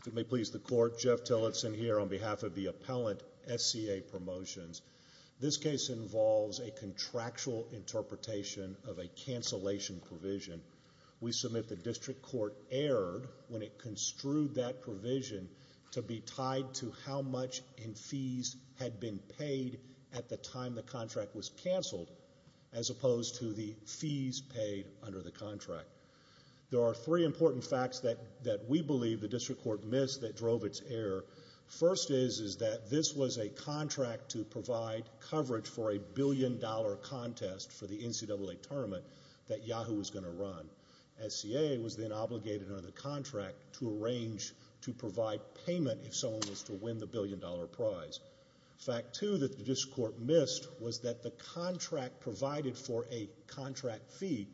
If it may please the Court, Jeff Tillotson here on behalf of the Appellant SCA Promotions. This case involves a contractual interpretation of a cancellation provision. We submit the District Court erred when it construed that provision to be tied to how much in fees had been paid at the time the contract was cancelled as opposed to the fees paid under the contract. There are three important facts that we believe the District Court missed that drove its error. First is that this was a contract to provide coverage for a billion-dollar contest for the NCAA tournament that Yahoo! was going to run. SCA was then obligated under the contract to arrange to provide payment if someone was to win the billion-dollar prize. Fact two that the District Court missed was that the contract provided for a contract fee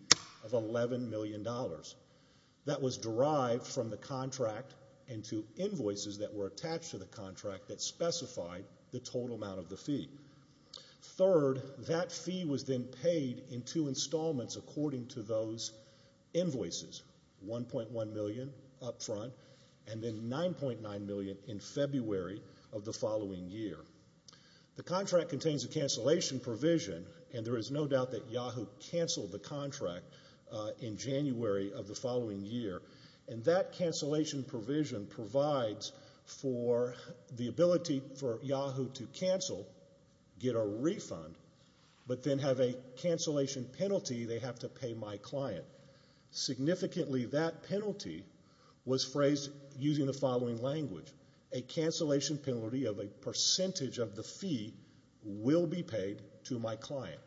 of $11 million. That was derived from the contract into invoices that were attached to the contract that specified the total amount of the fee. Third, that fee was then paid in two installments according to those invoices, $1.1 million up front and then $9.9 million in February of the following year. The contract contains a cancellation provision and there is no doubt that Yahoo! cancelled the contract in January of the following year. And that cancellation provision provides for the ability for Yahoo! to cancel, get a refund, but then have a cancellation penalty they have to pay my client. Significantly, that penalty was phrased using the following language. A cancellation penalty of a percentage of the fee will be paid to my client.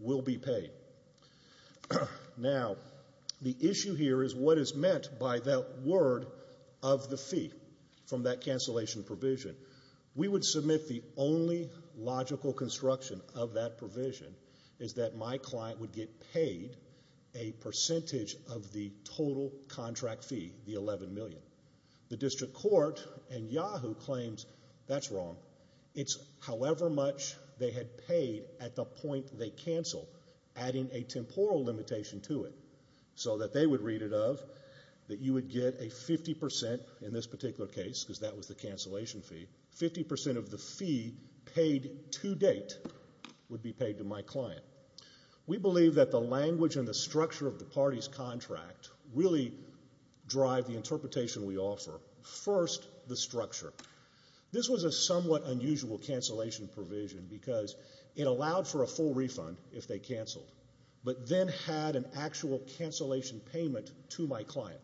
Will be paid. Now, the issue here is what is meant by that word of the fee from that cancellation provision. We would submit the only logical construction of that provision is that my client would get paid a percentage of the total contract fee, the $11 million. The district court in Yahoo! claims that's wrong. It's however much they had paid at the point they cancel, adding a temporal limitation to it. So that they would read it of that you would get a 50% in this particular case because that was the cancellation fee. 50% of the fee paid to date would be paid to my client. We believe that the language and the structure of the party's contract really drive the interpretation we offer. First, the structure. This was a somewhat unusual cancellation provision because it allowed for a full refund if they cancelled, but then had an actual cancellation payment to my client.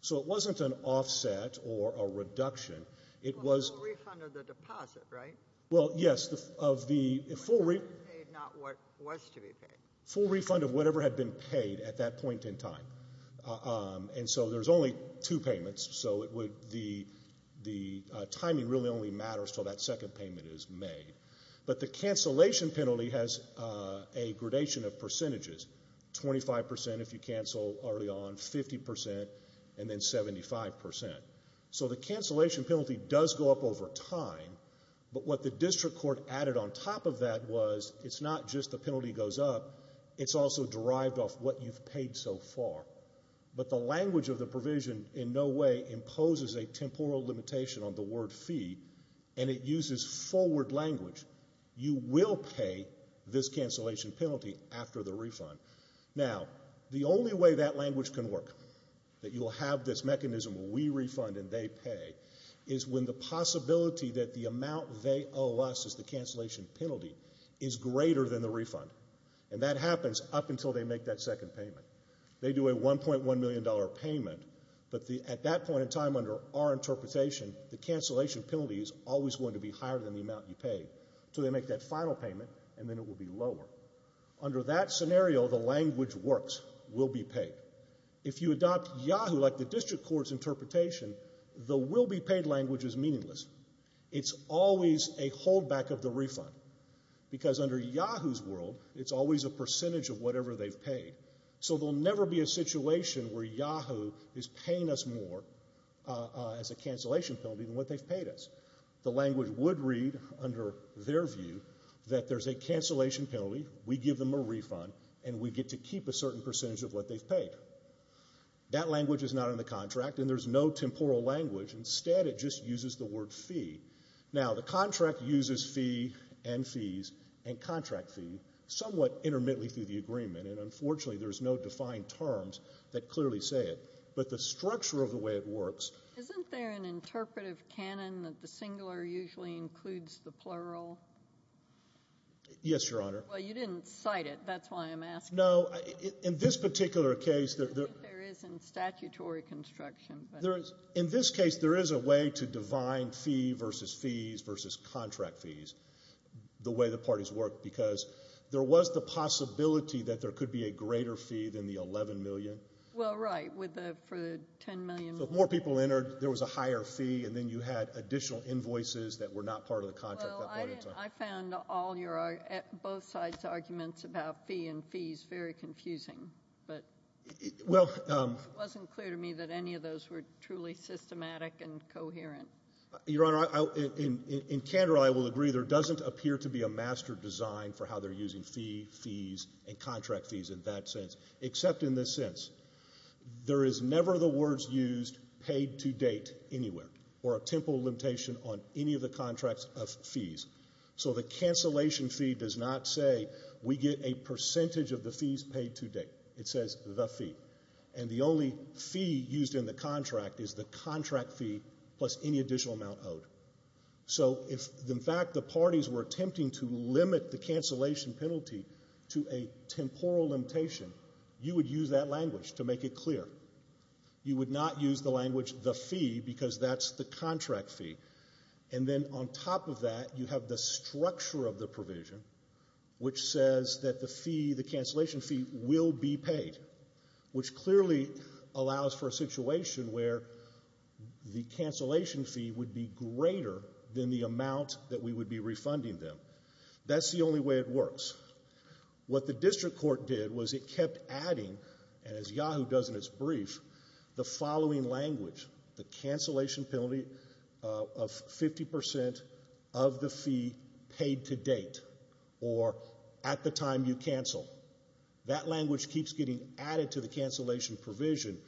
So it wasn't an offset or a reduction. It was... A full refund of the deposit, right? Well, yes, of the full refund of whatever had been paid at that point in time. And so there's only two payments, so the timing really only matters until that second payment is made. But the cancellation penalty has a gradation of percentages, 25% if you cancel early on, 50%, and then 75%. So the cancellation penalty does go up over time, but what the district court added on top of that was it's not just the penalty goes up, it's also derived off what you've paid so far. But the language of the provision in no way imposes a temporal limitation on the word fee, and it uses forward language. You will pay this cancellation penalty after the refund. Now, the only way that language can work, that you'll have this mechanism where we refund and they pay, is when the possibility that the amount they owe us as the cancellation penalty is greater than the refund. And that happens up until they make that second payment. They do a $1.1 million payment, but at that point in time under our interpretation, the cancellation penalty is always going to be higher than the amount you paid until they make that final payment, and then it will be lower. Under that scenario, the language works, will be paid. If you adopt Yahoo like the district court's interpretation, the will-be-paid language is meaningless. It's always a holdback of the refund, because under Yahoo's world, it's always a percentage of whatever they've paid. So there'll never be a situation where Yahoo is paying us more as a cancellation penalty than what they've paid us. The language would read, under their view, that there's a cancellation penalty, we give them a refund, and we get to keep a certain percentage of what they've paid. That language is not in the contract, and there's no temporal language. Instead, it just uses the word fee. Now, the contract uses fee and fees and contract fee somewhat intermittently through the agreement, and unfortunately there's no defined terms that clearly say it. But the structure of the way it works— Isn't there an interpretive canon that the singular usually includes the plural? Yes, Your Honor. Well, you didn't cite it. That's why I'm asking. No, in this particular case— I think there is in statutory construction. In this case, there is a way to define fee versus fees versus contract fees, the way the parties work, because there was the possibility that there could be a greater fee than the $11 million. Well, right, for the $10 million. So if more people entered, there was a higher fee, and then you had additional invoices that were not part of the contract at that point in time. Well, I found both sides' arguments about fee and fees very confusing, but it wasn't clear to me that any of those were truly systematic and coherent. Your Honor, in candor I will agree there doesn't appear to be a master design for how they're using fee, fees, and contract fees in that sense, except in the sense there is never the words used paid to date anywhere or a temporal limitation on any of the contracts of fees. So the cancellation fee does not say we get a percentage of the fees paid to date. It says the fee. And the only fee used in the contract is the contract fee plus any additional amount owed. So if, in fact, the parties were attempting to limit the cancellation penalty to a temporal limitation, you would use that language to make it clear. You would not use the language the fee because that's the contract fee. And then on top of that, you have the structure of the provision, which says that the fee, the cancellation fee, will be paid, which clearly allows for a situation where the cancellation fee would be greater than the amount that we would be refunding them. That's the only way it works. What the district court did was it kept adding, and as Yahoo does in its brief, the following language, the cancellation penalty of 50% of the fee paid to date, or at the time you cancel. That language keeps getting added to the cancellation provision,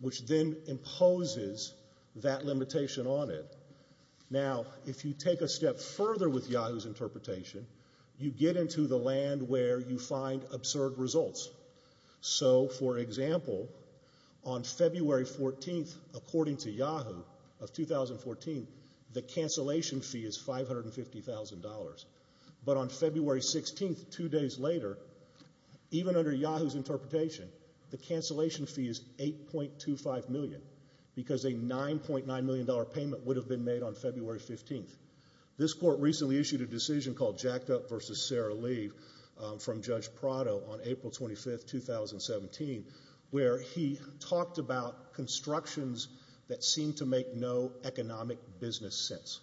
which then imposes that limitation on it. Now, if you take a step further with Yahoo's interpretation, you get into the land where you find absurd results. So, for example, on February 14, according to Yahoo, of 2014, the cancellation fee is $550,000. But on February 16, two days later, even under Yahoo's interpretation, the cancellation fee is $8.25 million because a $9.9 million payment would have been made on February 15. This court recently issued a decision called Jacked Up v. Sarah Leaf from Judge Prado on April 25, 2017, where he talked about constructions that seem to make no economic business sense,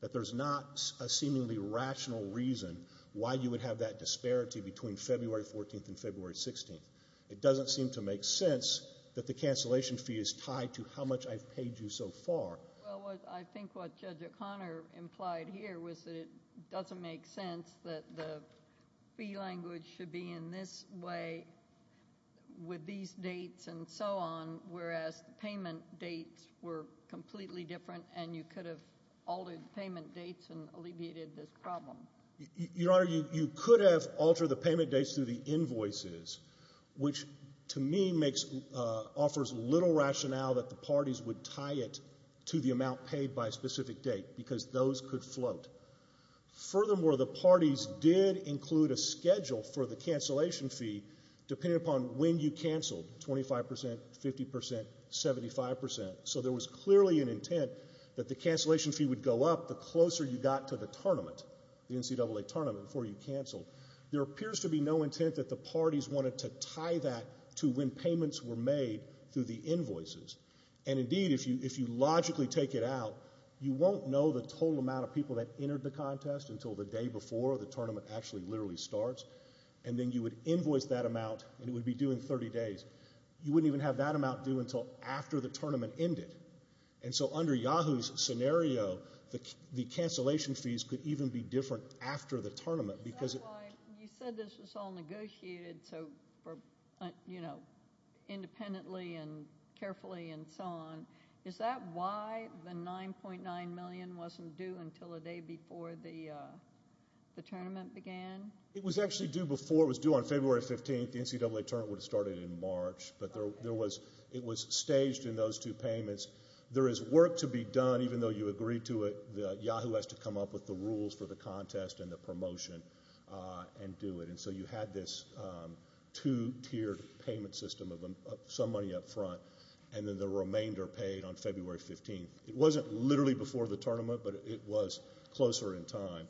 that there's not a seemingly rational reason why you would have that disparity between February 14 and February 16. It doesn't seem to make sense that the cancellation fee is tied to how much I've paid you so far. Well, I think what Judge O'Connor implied here was that it doesn't make sense that the fee language should be in this way with these dates and so on, whereas the payment dates were completely different and you could have altered the payment dates and alleviated this problem. Your Honor, you could have altered the payment dates through the invoices, which to me offers little rationale that the parties would tie it to the amount paid by a specific date because those could float. Furthermore, the parties did include a schedule for the cancellation fee depending upon when you canceled, 25 percent, 50 percent, 75 percent. So there was clearly an intent that the cancellation fee would go up the closer you got to the tournament, the NCAA tournament, before you canceled. There appears to be no intent that the parties wanted to tie that to when payments were made through the invoices. And indeed, if you logically take it out, you won't know the total amount of people that entered the contest until the day before the tournament actually literally starts, and then you would invoice that amount and it would be due in 30 days. You wouldn't even have that amount due until after the tournament ended. And so under Yahoo's scenario, the cancellation fees could even be different after the tournament. That's why you said this was all negotiated independently and carefully and so on. Is that why the $9.9 million wasn't due until the day before the tournament began? It was actually due before. It was due on February 15th. The NCAA tournament would have started in March, but it was staged in those two payments. There is work to be done, even though you agreed to it. Yahoo has to come up with the rules for the contest and the promotion and do it. And so you had this two-tiered payment system of some money up front, and then the remainder paid on February 15th. It wasn't literally before the tournament, but it was closer in time.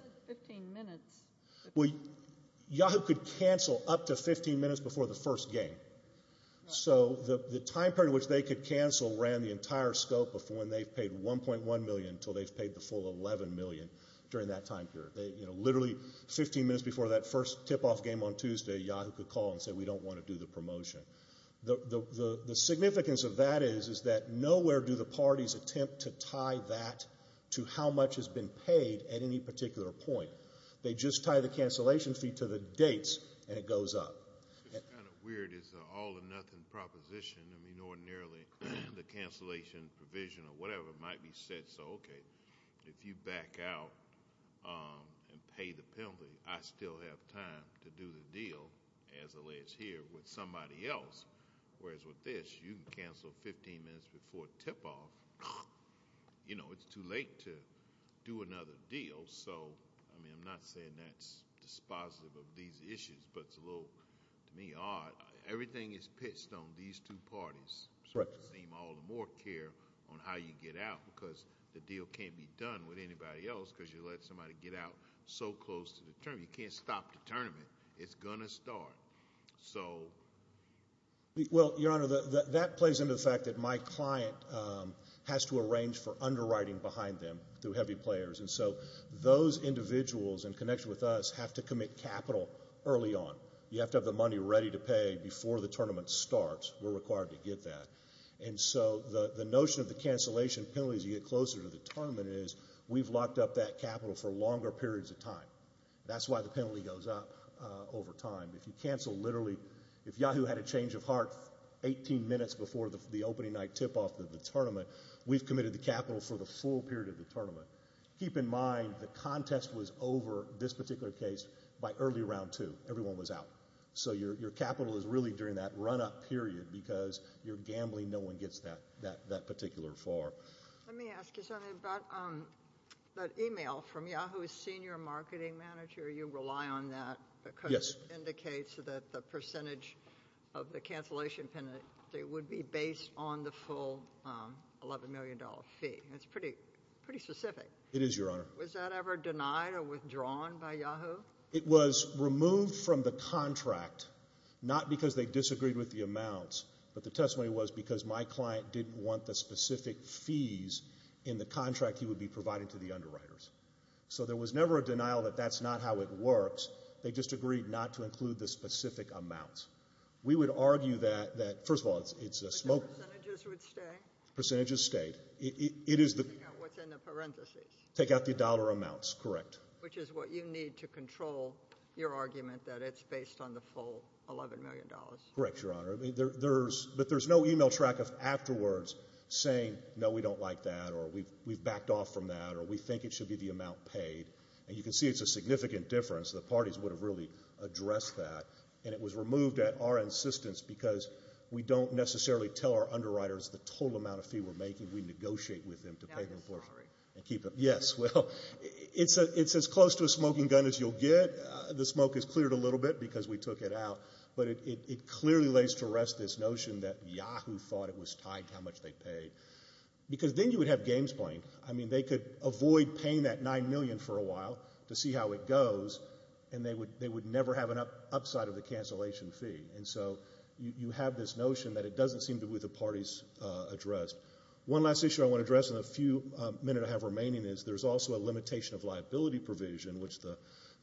Yahoo could cancel up to 15 minutes before the first game. So the time period in which they could cancel ran the entire scope of when they've paid $1.1 million until they've paid the full $11 million during that time period. Literally 15 minutes before that first tip-off game on Tuesday, Yahoo could call and say, we don't want to do the promotion. The significance of that is that nowhere do the parties attempt to tie that to how much has been paid at any particular point. They just tie the cancellation fee to the dates, and it goes up. It's kind of weird. It's an all-or-nothing proposition. I mean, ordinarily the cancellation provision or whatever might be set so, okay, if you back out and pay the penalty, I still have time to do the deal, as alleged here, with somebody else. Whereas with this, you can cancel 15 minutes before tip-off. You know, it's too late to do another deal. So, I mean, I'm not saying that's dispositive of these issues, but it's a little, to me, odd. Everything is pitched on these two parties. It seems all the more care on how you get out because the deal can't be done with anybody else because you let somebody get out so close to the tournament. You can't stop the tournament. It's going to start. Well, Your Honor, that plays into the fact that my client has to arrange for underwriting behind them through heavy players, and so those individuals in connection with us have to commit capital early on. You have to have the money ready to pay before the tournament starts. We're required to get that. And so the notion of the cancellation penalty as you get closer to the tournament is we've locked up that capital for longer periods of time. That's why the penalty goes up over time. If you cancel literally, if Yahoo had a change of heart 18 minutes before the opening night tip-off of the tournament, we've committed the capital for the full period of the tournament. Keep in mind the contest was over, this particular case, by early round two. Everyone was out. So your capital is really during that run-up period because you're gambling. No one gets that particular far. Let me ask you something about that email from Yahoo's senior marketing manager. You rely on that because it indicates that the percentage of the cancellation penalty would be based on the full $11 million fee. That's pretty specific. It is, Your Honor. Was that ever denied or withdrawn by Yahoo? It was removed from the contract, not because they disagreed with the amounts, but the testimony was because my client didn't want the specific fees in the contract he would be providing to the underwriters. So there was never a denial that that's not how it works. They just agreed not to include the specific amounts. We would argue that, first of all, it's a smoke. But the percentages would stay? Percentages stayed. What's in the parentheses? Take out the dollar amounts, correct. Which is what you need to control your argument that it's based on the full $11 million. Correct, Your Honor. But there's no email track of afterwards saying, no, we don't like that, or we've backed off from that, or we think it should be the amount paid. And you can see it's a significant difference. The parties would have really addressed that. And it was removed at our insistence because we don't necessarily tell our underwriters the total amount of fee we're making. We negotiate with them to pay them for it. No, I'm sorry. Yes, well, it's as close to a smoking gun as you'll get. The smoke has cleared a little bit because we took it out. But it clearly lays to rest this notion that Yahoo thought it was tied to how much they paid. Because then you would have games playing. I mean, they could avoid paying that $9 million for a while to see how it goes, and they would never have an upside of the cancellation fee. And so you have this notion that it doesn't seem to be what the parties addressed. One last issue I want to address in the few minutes I have remaining is there's also a limitation of liability provision, which the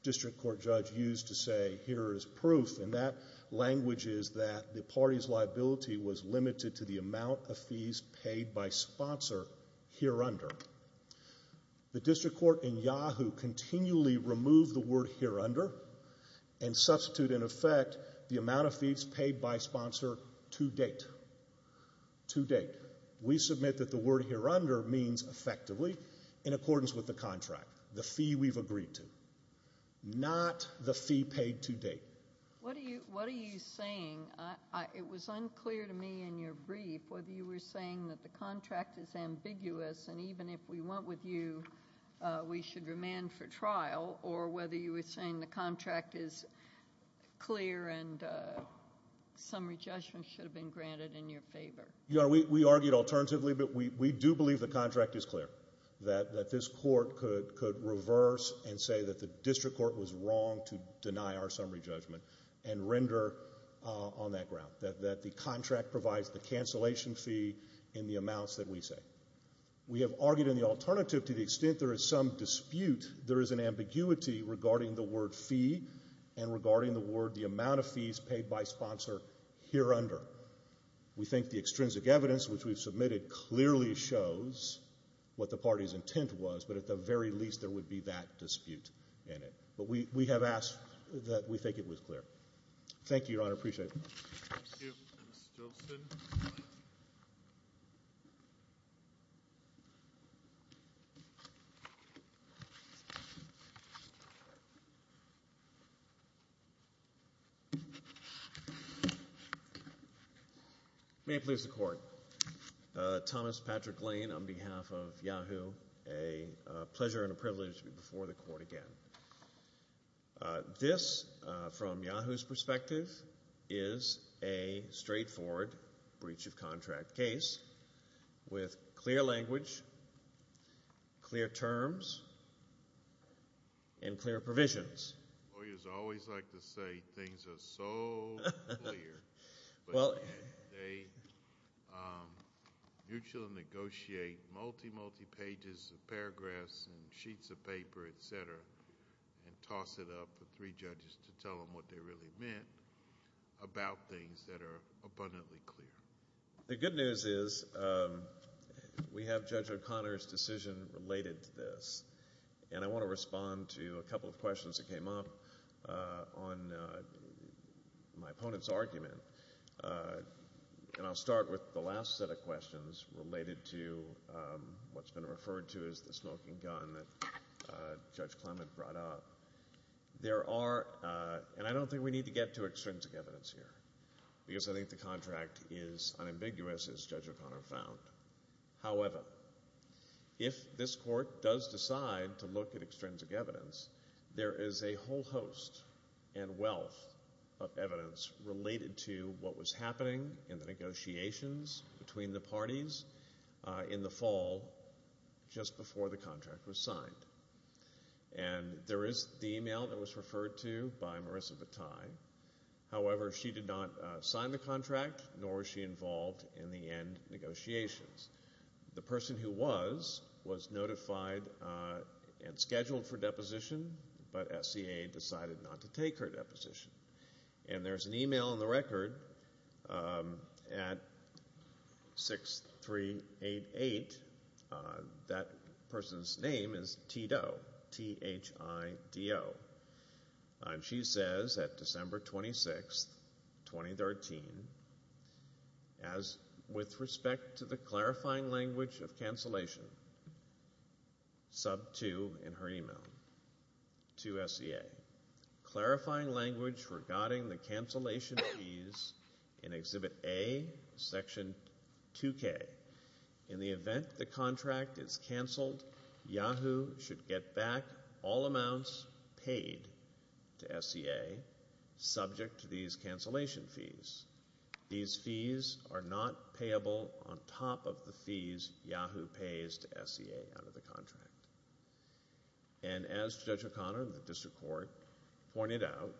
district court judge used to say, here is proof. And that language is that the party's liability was limited to the amount of fees paid by sponsor hereunder. The district court in Yahoo continually removed the word hereunder and substituted, in effect, the amount of fees paid by sponsor to date. To date. We submit that the word hereunder means effectively in accordance with the contract, the fee we've agreed to, not the fee paid to date. What are you saying? It was unclear to me in your brief whether you were saying that the contract is ambiguous and even if we went with you, we should remand for trial, or whether you were saying the contract is clear and summary judgment should have been granted in your favor. We argued alternatively, but we do believe the contract is clear, that this court could reverse and say that the district court was wrong to deny our summary judgment and render on that ground, that the contract provides the cancellation fee in the amounts that we say. We have argued in the alternative to the extent there is some dispute, there is an ambiguity regarding the word fee and regarding the word the amount of fees paid by sponsor hereunder. We think the extrinsic evidence which we've submitted clearly shows what the party's intent was, but at the very least there would be that dispute in it. But we have asked that we think it was clear. Thank you, Your Honor. I appreciate it. Thank you. Mr. Jolson. May it please the Court. Thomas Patrick Lane on behalf of Yahoo! A pleasure and a privilege to be before the Court again. This, from Yahoo!'s perspective, is a straightforward breach of contract case with clear language, clear terms, and clear provisions. Lawyers always like to say things are so clear, but they mutually negotiate multi, multi pages of paragraphs and sheets of paper, et cetera, and toss it up for three judges to tell them what they really meant about things that are abundantly clear. The good news is we have Judge O'Connor's decision related to this, and I want to respond to a couple of questions that came up on my opponent's argument. And I'll start with the last set of questions related to what's been referred to as the smoking gun that Judge Clement brought up. There are, and I don't think we need to get to extrinsic evidence here, because I think the contract is unambiguous, as Judge O'Connor found. However, if this Court does decide to look at extrinsic evidence, there is a whole host and wealth of evidence related to what was happening in the negotiations between the parties in the fall just before the contract was signed. And there is the email that was referred to by Marissa Bataille. However, she did not sign the contract, nor was she involved in the end negotiations. The person who was was notified and scheduled for deposition, but SCA decided not to take her deposition. And there's an email in the record at 6388. That person's name is Thido, T-H-I-D-O. And she says that December 26, 2013, with respect to the clarifying language of cancellation, sub 2 in her email to SCA, clarifying language regarding the cancellation fees in Exhibit A, Section 2K, in the event the contract is canceled, Yahoo should get back all amounts paid to SCA subject to these cancellation fees. These fees are not payable on top of the fees Yahoo pays to SCA out of the contract. And as Judge O'Connor and the District Court pointed out,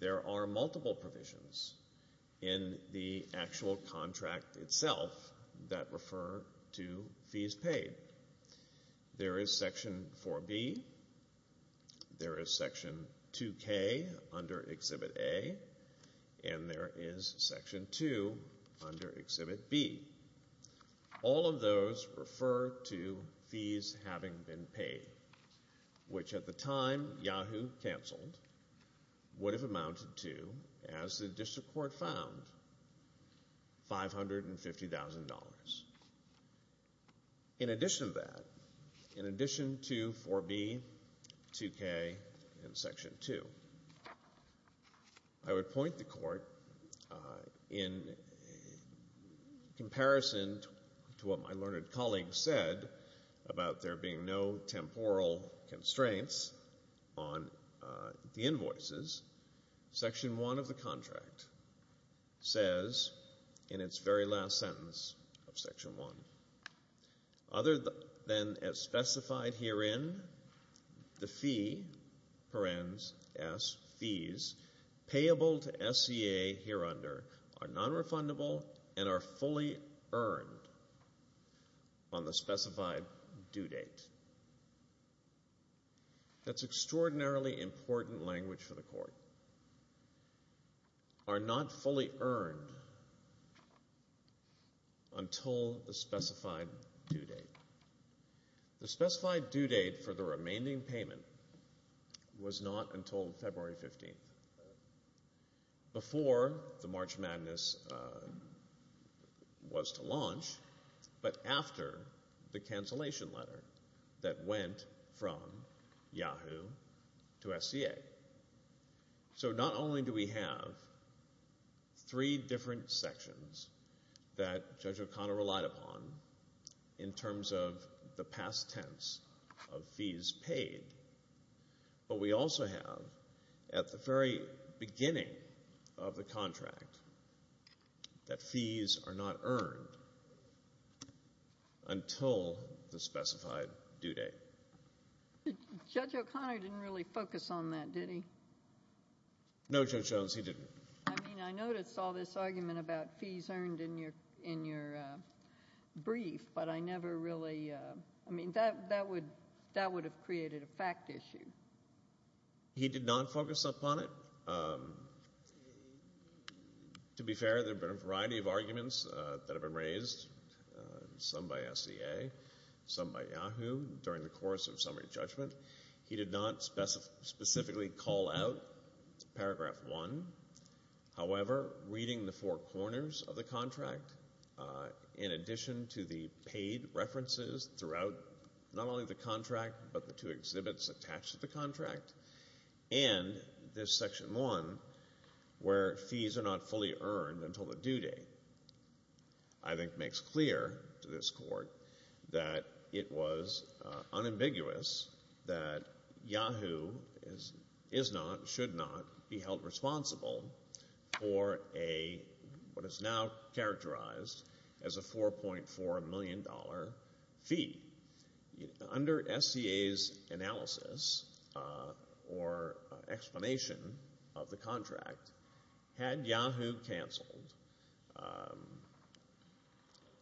there are multiple provisions in the actual contract itself that refer to fees paid. There is Section 4B. There is Section 2K under Exhibit A. And there is Section 2 under Exhibit B. All of those refer to fees having been paid, which at the time Yahoo canceled would have amounted to, as the District Court found, $550,000. In addition to that, in addition to 4B, 2K, and Section 2, I would point the Court in comparison to what my learned colleague said about there being no temporal constraints on the invoices, Section 1 of the contract says in its very last sentence of Section 1, Other than as specified herein, the fee, parens, S, fees, payable to SCA hereunder, are nonrefundable and are fully earned on the specified due date. That's extraordinarily important language for the Court. Are not fully earned until the specified due date. The specified due date for the remaining payment was not until February 15th, before the March Madness was to launch, but after the cancellation letter that went from Yahoo to SCA. So not only do we have three different sections that Judge O'Connor relied upon in terms of the past tense of fees paid, but we also have at the very beginning of the contract that fees are not earned until the specified due date. Judge O'Connor didn't really focus on that, did he? No, Judge Jones, he didn't. I mean, I noticed all this argument about fees earned in your brief, but I never really, I mean, that would have created a fact issue. He did not focus upon it. To be fair, there have been a variety of arguments that have been raised, some by SCA, some by Yahoo, during the course of summary judgment. He did not specifically call out paragraph one. However, reading the four corners of the contract, in addition to the paid references throughout not only the contract, but the two exhibits attached to the contract, and this section one where fees are not fully earned until the due date, I think makes clear to this Court that it was unambiguous that Yahoo is not, should not be held responsible for what is now characterized as a $4.4 million fee. Under SCA's analysis or explanation of the contract, had Yahoo canceled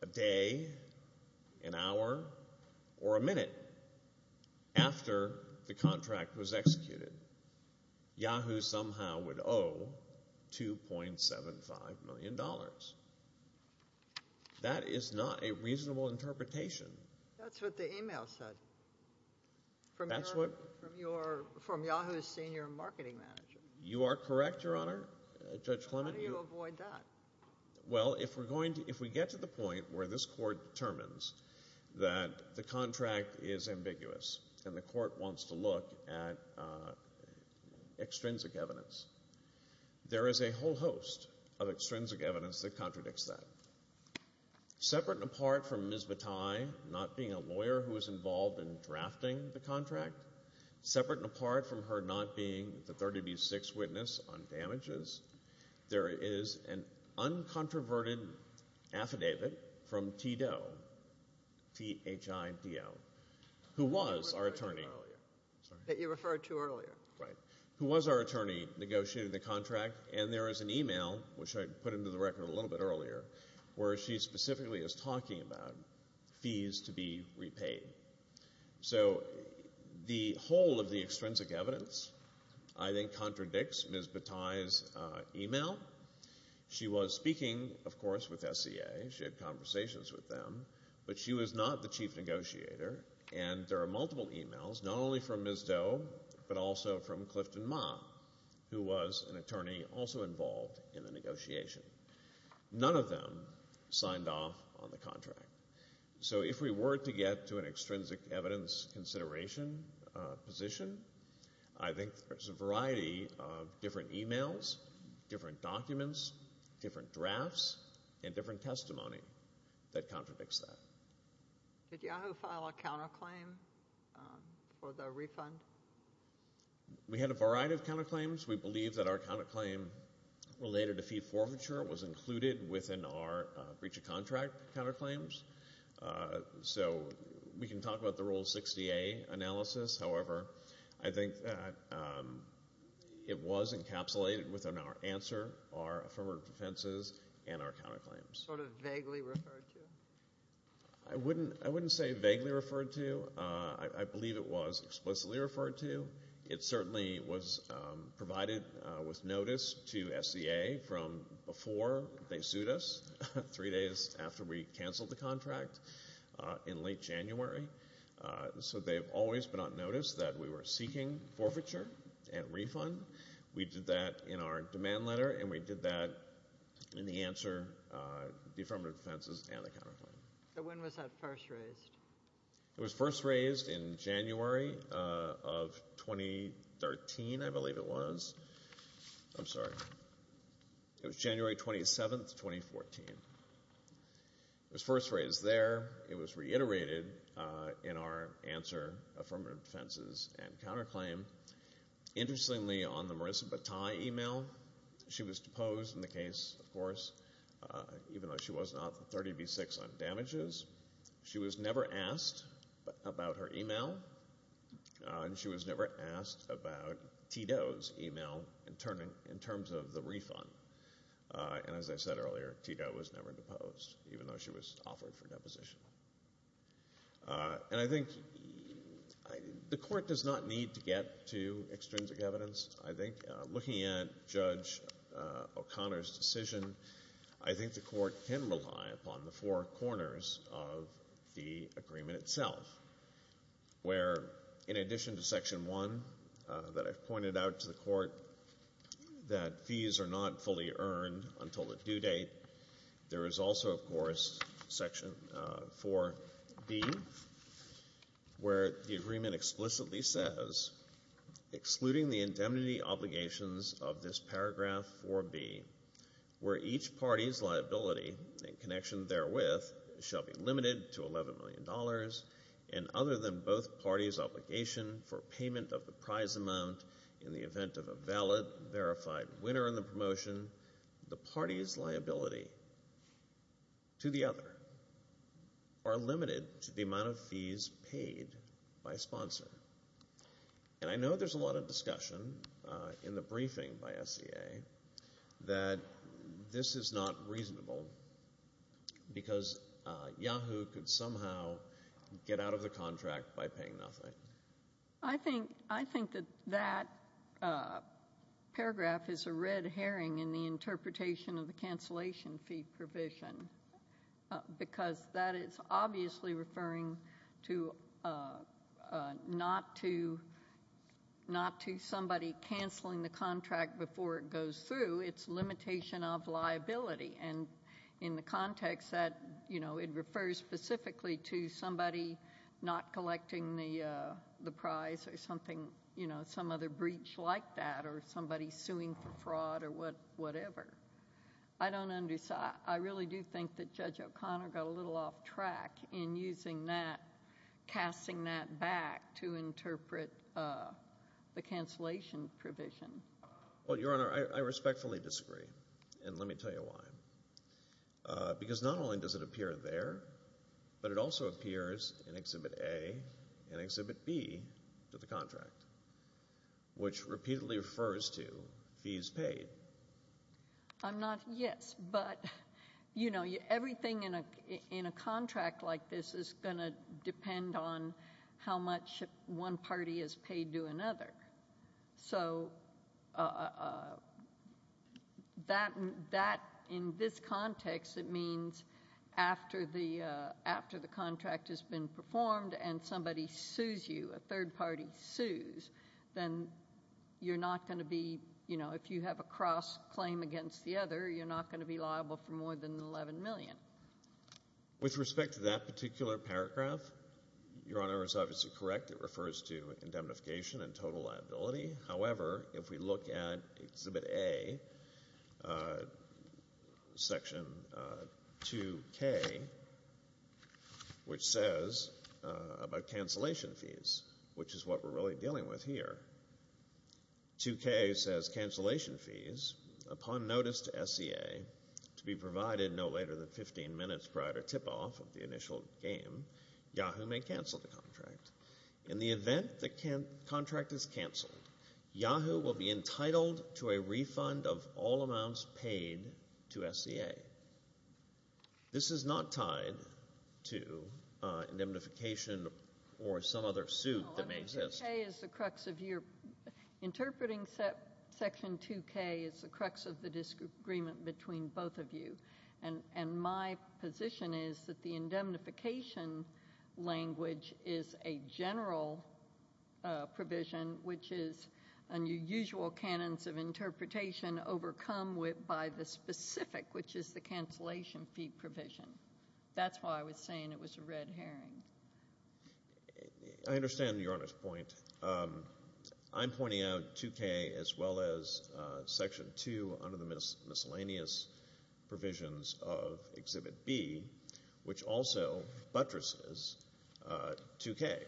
a day, an hour, or a minute after the contract was executed, Yahoo somehow would owe $2.75 million. That is not a reasonable interpretation. That's what the email said from Yahoo's senior marketing manager. You are correct, Your Honor, Judge Clement. How do you avoid that? Well, if we get to the point where this Court determines that the contract is ambiguous and the Court wants to look at extrinsic evidence, there is a whole host of extrinsic evidence that contradicts that. Separate and apart from Ms. Bataille not being a lawyer who was involved in drafting the contract, separate and apart from her not being the third to be sixth witness on damages, there is an uncontroverted affidavit from TDO, T-H-I-D-O, who was our attorney. That you referred to earlier. Right. Who was our attorney negotiating the contract, and there is an email, which I put into the record a little bit earlier, where she specifically is talking about fees to be repaid. So the whole of the extrinsic evidence, I think, contradicts Ms. Bataille's email. She was speaking, of course, with SCA. She had conversations with them. But she was not the chief negotiator, and there are multiple emails, not only from Ms. Doe but also from Clifton Ma, who was an attorney also involved in the negotiation. None of them signed off on the contract. So if we were to get to an extrinsic evidence consideration position, I think there's a variety of different emails, different documents, different drafts, and different testimony that contradicts that. Did Yahoo file a counterclaim for the refund? We had a variety of counterclaims. We believe that our counterclaim related to fee forfeiture was included within our breach of contract counterclaims. So we can talk about the Rule 60A analysis. However, I think it was encapsulated within our answer, our affirmative defenses, and our counterclaims. Sort of vaguely referred to? I wouldn't say vaguely referred to. I believe it was explicitly referred to. It certainly was provided with notice to SEA from before they sued us, three days after we canceled the contract in late January. So they've always been on notice that we were seeking forfeiture and refund. We did that in our demand letter, and we did that in the answer, the affirmative defenses, and the counterclaim. So when was that first raised? It was first raised in January of 2013, I believe it was. I'm sorry. It was January 27, 2014. It was first raised there. It was reiterated in our answer, affirmative defenses, and counterclaim. Interestingly, on the Marissa Bataille email, she was deposed in the case, of course, even though she was not 30 v. 6 on damages. She was never asked about her email, and she was never asked about Tito's email in terms of the refund. And as I said earlier, Tito was never deposed, even though she was offered for deposition. And I think the court does not need to get to extrinsic evidence. First, I think looking at Judge O'Connor's decision, I think the court can rely upon the four corners of the agreement itself, where in addition to Section 1 that I've pointed out to the court that fees are not fully earned until the due date, there is also, of course, Section 4B, where the agreement explicitly says, excluding the indemnity obligations of this paragraph 4B, where each party's liability in connection therewith shall be limited to $11 million, and other than both parties' obligation for payment of the prize amount in the event of a valid, verified winner in the promotion, the party's liability to the other are limited to the amount of fees paid by a sponsor. And I know there's a lot of discussion in the briefing by SEA that this is not reasonable because Yahoo could somehow get out of the contract by paying nothing. I think that that paragraph is a red herring in the interpretation of the cancellation fee provision because that is obviously referring not to somebody canceling the contract before it goes through. It's limitation of liability. And in the context that it refers specifically to somebody not collecting the prize or some other breach like that or somebody suing for fraud or whatever, I really do think that Judge O'Connor got a little off track in using that, casting that back to interpret the cancellation provision. Well, Your Honor, I respectfully disagree, and let me tell you why. Because not only does it appear there, but it also appears in Exhibit A and Exhibit B to the contract, which repeatedly refers to fees paid. Yes, but everything in a contract like this is going to depend on how much one party is paid to another. So that, in this context, it means after the contract has been performed and somebody sues you, a third party sues, then you're not going to be, you know, if you have a cross-claim against the other, you're not going to be liable for more than $11 million. With respect to that particular paragraph, Your Honor is obviously correct. It refers to indemnification and total liability. However, if we look at Exhibit A, Section 2K, which says about cancellation fees, which is what we're really dealing with here, 2K says cancellation fees, upon notice to SEA to be provided no later than 15 minutes prior to tip-off of the initial game, YAHOO may cancel the contract. In the event the contract is canceled, YAHOO will be entitled to a refund of all amounts paid to SEA. This is not tied to indemnification or some other suit that may exist. No, I think 2K is the crux of your – interpreting Section 2K is the crux of the disagreement between both of you, and my position is that the indemnification language is a general provision, which is unusual canons of interpretation overcome by the specific, which is the cancellation fee provision. That's why I was saying it was a red herring. I understand Your Honor's point. I'm pointing out 2K as well as Section 2 under the miscellaneous provisions of Exhibit B, which also buttresses 2K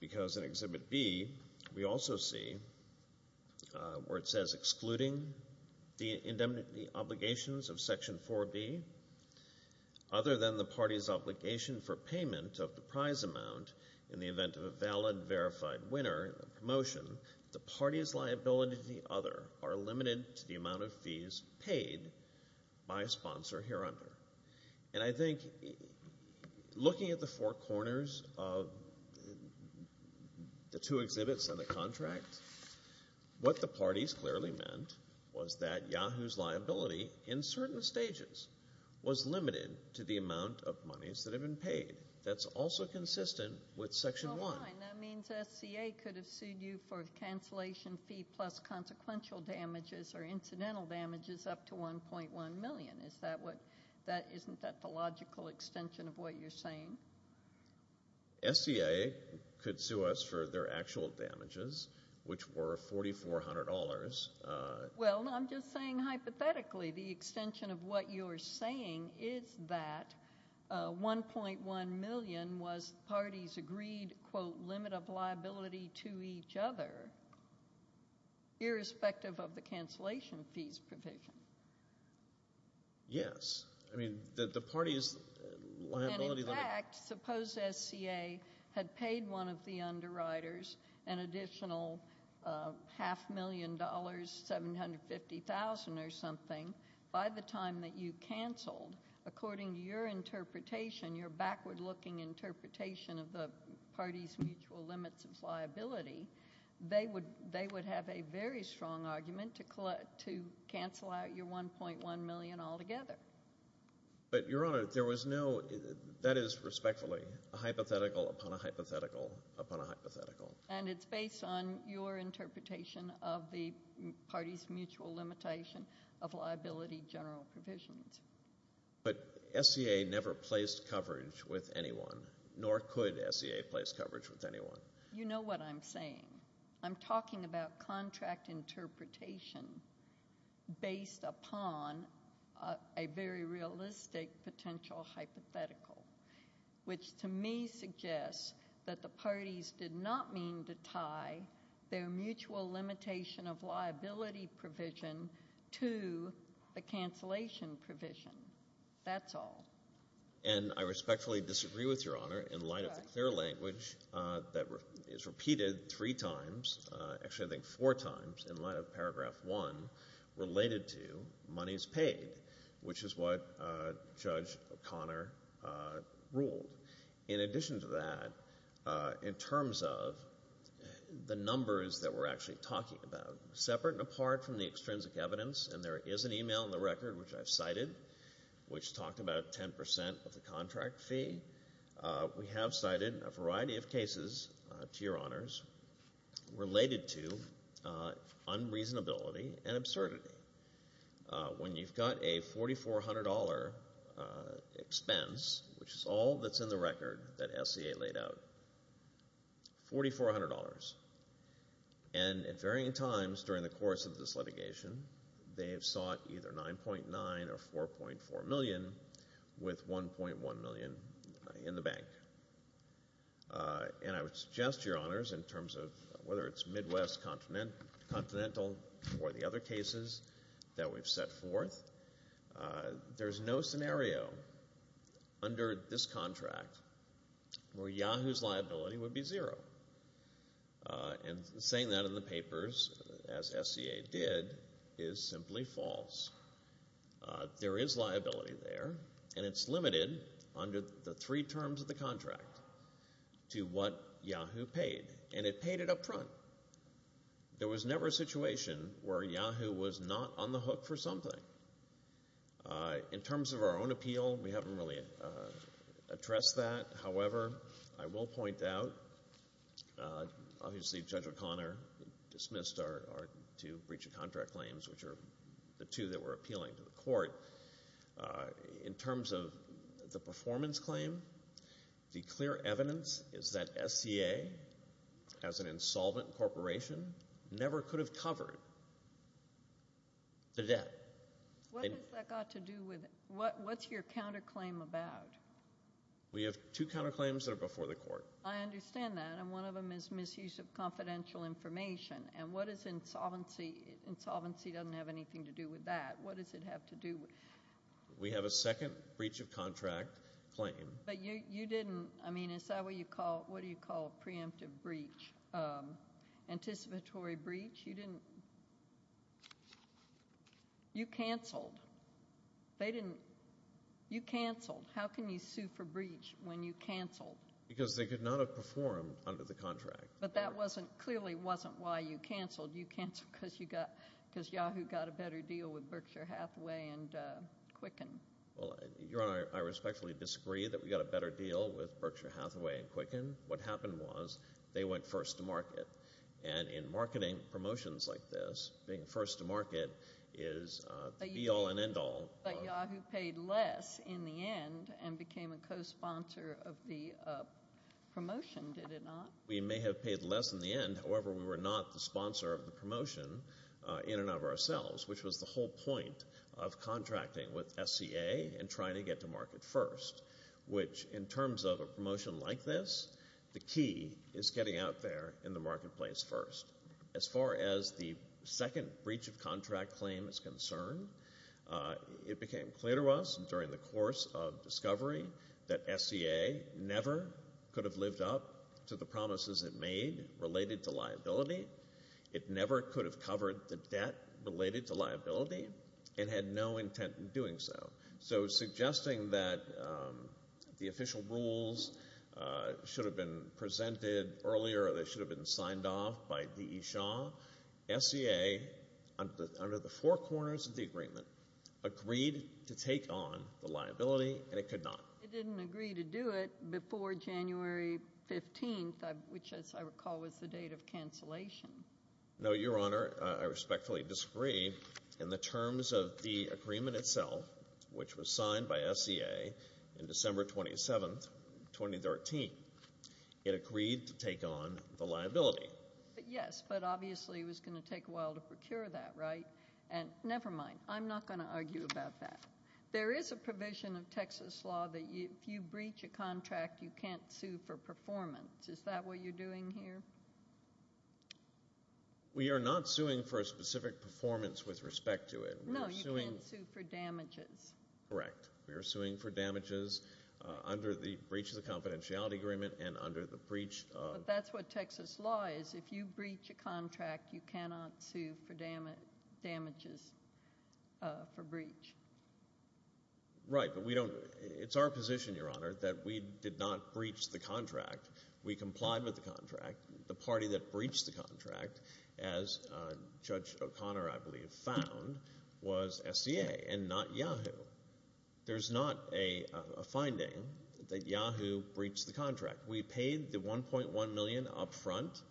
because in Exhibit B we also see where it says excluding the indemnity obligations of Section 4B, other than the party's obligation for payment of the prize amount in the event of a valid, verified winner, a promotion, the party's liability to the other are limited to the amount of fees paid by a sponsor hereunder. And I think looking at the four corners of the two exhibits on the contract, what the parties clearly meant was that YAHOO's liability in certain stages was limited to the amount of monies that have been paid. That's also consistent with Section 1. So why? That means SCA could have sued you for cancellation fee plus consequential damages or incidental damages up to $1.1 million. Isn't that the logical extension of what you're saying? SCA could sue us for their actual damages, which were $4,400. Well, I'm just saying hypothetically the extension of what you're saying is that $1.1 million was the party's agreed, quote, limit of liability to each other irrespective of the cancellation fees provision. Yes. I mean the party's liability limit. And, in fact, suppose SCA had paid one of the underwriters an additional half million dollars, $750,000 or something, by the time that you canceled. According to your interpretation, your backward-looking interpretation of the party's mutual limits of liability, they would have a very strong argument to cancel out your $1.1 million altogether. But, Your Honor, there was no – that is, respectfully, a hypothetical upon a hypothetical upon a hypothetical. And it's based on your interpretation of the party's mutual limitation of liability general provisions. But SCA never placed coverage with anyone, nor could SCA place coverage with anyone. You know what I'm saying. I'm talking about contract interpretation based upon a very realistic potential hypothetical, which to me suggests that the parties did not mean to tie their mutual limitation of liability provision to the cancellation provision. That's all. And I respectfully disagree with Your Honor in light of the clear language that is repeated three times – actually, I think four times in light of Paragraph 1 related to money is paid, which is what Judge O'Connor ruled. In addition to that, in terms of the numbers that we're actually talking about, separate and apart from the extrinsic evidence – and there is an email in the record, which I've cited, which talked about 10 percent of the contract fee – we have cited a variety of cases, to Your Honors, related to unreasonability and absurdity. When you've got a $4,400 expense, which is all that's in the record that SCA laid out, $4,400. And at varying times during the course of this litigation, they have sought either $9.9 or $4.4 million, with $1.1 million in the bank. And I would suggest to Your Honors, in terms of whether it's Midwest, Continental, or the other cases that we've set forth, there's no scenario under this contract where Yahoo's liability would be zero. And saying that in the papers, as SCA did, is simply false. There is liability there, and it's limited, under the three terms of the contract, to what Yahoo paid. And it paid it up front. There was never a situation where Yahoo was not on the hook for something. In terms of our own appeal, we haven't really addressed that. However, I will point out, obviously Judge O'Connor dismissed our two breach of contract claims, which are the two that were appealing to the court. In terms of the performance claim, the clear evidence is that SCA, as an insolvent corporation, never could have covered the debt. What has that got to do with it? What's your counterclaim about? We have two counterclaims that are before the court. I understand that. And one of them is misuse of confidential information. And what is insolvency? Insolvency doesn't have anything to do with that. What does it have to do with it? We have a second breach of contract claim. But you didn't, I mean, is that what you call, what do you call preemptive breach? Anticipatory breach? You didn't, you canceled. They didn't, you canceled. How can you sue for breach when you canceled? Because they could not have performed under the contract. But that clearly wasn't why you canceled. You canceled because Yahoo got a better deal with Berkshire Hathaway and Quicken. Your Honor, I respectfully disagree that we got a better deal with Berkshire Hathaway and Quicken. What happened was they went first to market. And in marketing promotions like this, being first to market is the be all and end all. But Yahoo paid less in the end and became a cosponsor of the promotion, did it not? We may have paid less in the end. However, we were not the sponsor of the promotion in and of ourselves, which was the whole point of contracting with SCA and trying to get to market first, which in terms of a promotion like this, the key is getting out there in the marketplace first. As far as the second breach of contract claim is concerned, it became clear to us during the course of discovery that SCA never could have lived up to the promises it made related to liability. It never could have covered the debt related to liability and had no intent in doing so. So suggesting that the official rules should have been presented earlier or they should have been signed off by DE Shaw, SCA under the four corners of the agreement agreed to take on the liability, and it could not. It didn't agree to do it before January 15th, which as I recall was the date of cancellation. No, Your Honor. I respectfully disagree. In the terms of the agreement itself, which was signed by SCA in December 27th, 2013, it agreed to take on the liability. Yes, but obviously it was going to take a while to procure that, right? Never mind. I'm not going to argue about that. There is a provision of Texas law that if you breach a contract, you can't sue for performance. Is that what you're doing here? We are not suing for a specific performance with respect to it. No, you can't sue for damages. Correct. We are suing for damages under the breach of the confidentiality agreement and under the breach of the contract. You cannot sue for damages for breach. Right, but we don't. It's our position, Your Honor, that we did not breach the contract. We complied with the contract. The party that breached the contract, as Judge O'Connor, I believe, found, was SCA and not Yahoo. We paid the $1.1 million up front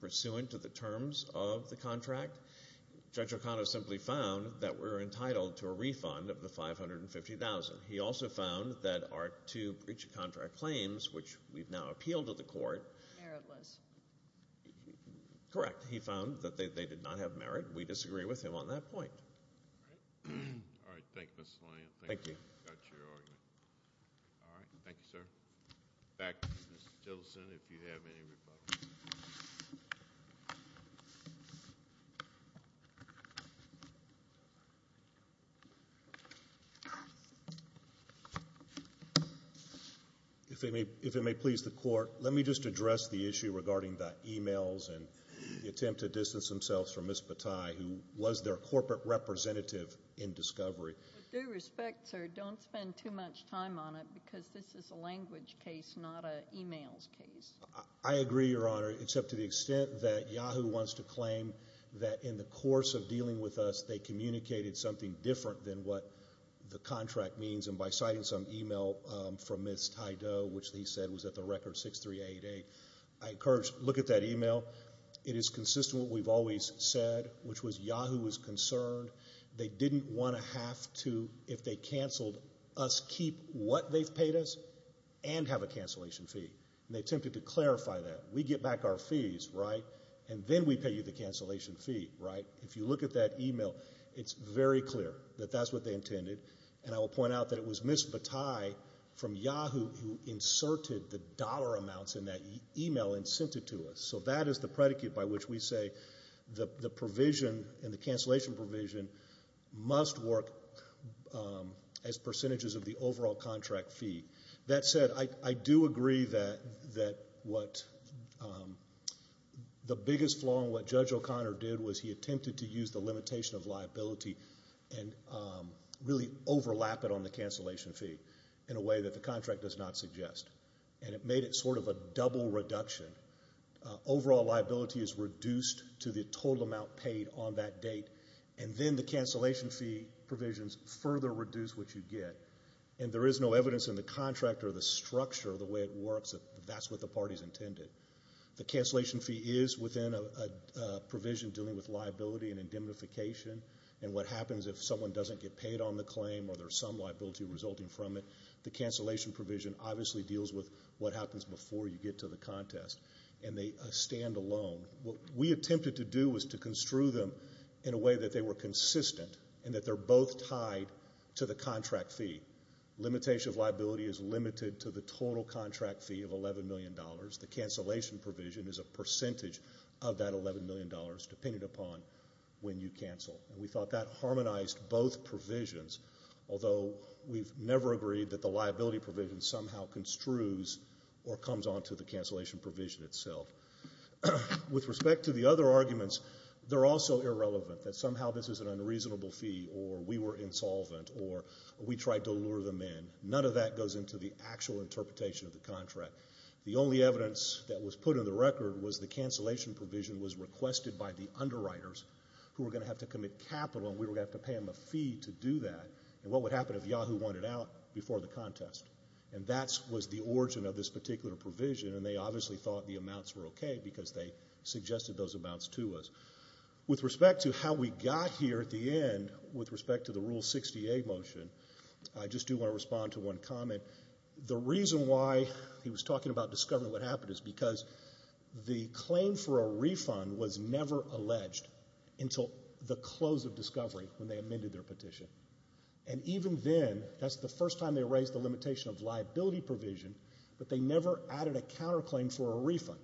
pursuant to the terms of the contract. Judge O'Connor simply found that we're entitled to a refund of the $550,000. He also found that our two breach of contract claims, which we've now appealed to the court. Meritless. Correct. He found that they did not have merit. We disagree with him on that point. All right. Thank you, Mr. Lanyon. Thank you. Got your argument. All right. Thank you, sir. Back to Ms. Tilson if you have any rebuttals. If it may please the court, let me just address the issue regarding the emails and the attempt to distance themselves from Ms. Bataille, who was their corporate representative in discovery. With due respect, sir, don't spend too much time on it because this is a language case, not an emails case. I agree, Your Honor, except to the extent that Yahoo wants to claim that in the course of dealing with us, they communicated something different than what the contract means. And by citing some email from Ms. Ty Doe, which he said was at the record 6388, I encourage you to look at that email. It is consistent with what we've always said, which was Yahoo was concerned. They didn't want to have to, if they canceled us, keep what they've paid us and have a cancellation fee. And they attempted to clarify that. We get back our fees, right, and then we pay you the cancellation fee, right? If you look at that email, it's very clear that that's what they intended. And I will point out that it was Ms. Bataille from Yahoo who inserted the dollar amounts in that email and sent it to us. So that is the predicate by which we say the provision and the cancellation provision must work as percentages of the overall contract fee. That said, I do agree that the biggest flaw in what Judge O'Connor did was he attempted to use the limitation of liability and really overlap it on the cancellation fee in a way that the contract does not suggest. And it made it sort of a double reduction. Overall liability is reduced to the total amount paid on that date, and then the cancellation fee provisions further reduce what you get. And there is no evidence in the contract or the structure of the way it works that that's what the parties intended. The cancellation fee is within a provision dealing with liability and indemnification, and what happens if someone doesn't get paid on the claim or there's some liability resulting from it, the cancellation provision obviously deals with what happens before you get to the contest, and they stand alone. What we attempted to do was to construe them in a way that they were consistent and that they're both tied to the contract fee. Limitation of liability is limited to the total contract fee of $11 million. The cancellation provision is a percentage of that $11 million, depending upon when you cancel. And we thought that harmonized both provisions, although we've never agreed that the liability provision somehow construes or comes onto the cancellation provision itself. With respect to the other arguments, they're also irrelevant, that somehow this is an unreasonable fee or we were insolvent or we tried to lure them in. None of that goes into the actual interpretation of the contract. The only evidence that was put in the record was the cancellation provision was requested by the underwriters who were going to have to commit capital and we were going to have to pay them a fee to do that. And what would happen if Yahoo wanted out before the contest? And that was the origin of this particular provision, and they obviously thought the amounts were okay because they suggested those amounts to us. With respect to how we got here at the end with respect to the Rule 60A motion, I just do want to respond to one comment. The reason why he was talking about discovering what happened is because the claim for a refund was never alleged until the close of discovery when they amended their petition. And even then, that's the first time they raised the limitation of liability provision, but they never added a counterclaim for a refund.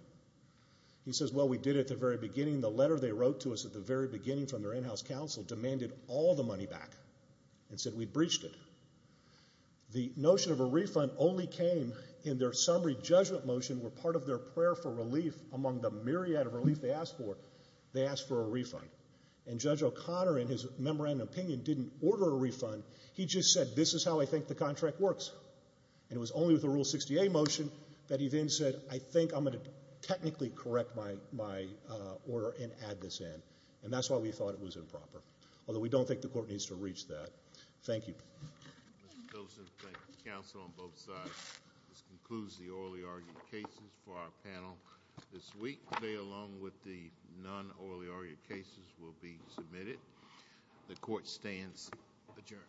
He says, well, we did at the very beginning. The letter they wrote to us at the very beginning from their in-house counsel demanded all the money back and said we breached it. The notion of a refund only came in their summary judgment motion where part of their prayer for relief among the myriad of relief they asked for, they asked for a refund. And Judge O'Connor, in his memorandum of opinion, didn't order a refund. He just said, this is how I think the contract works. And it was only with the Rule 60A motion that he then said, I think I'm going to technically correct my order and add this in. And that's why we thought it was improper, although we don't think the court needs to reach that. Thank you. Mr. Pilsen, thank you. Counsel on both sides. This concludes the orally argued cases for our panel this week. Today, along with the non-orally argued cases, will be submitted. The court stands adjourned.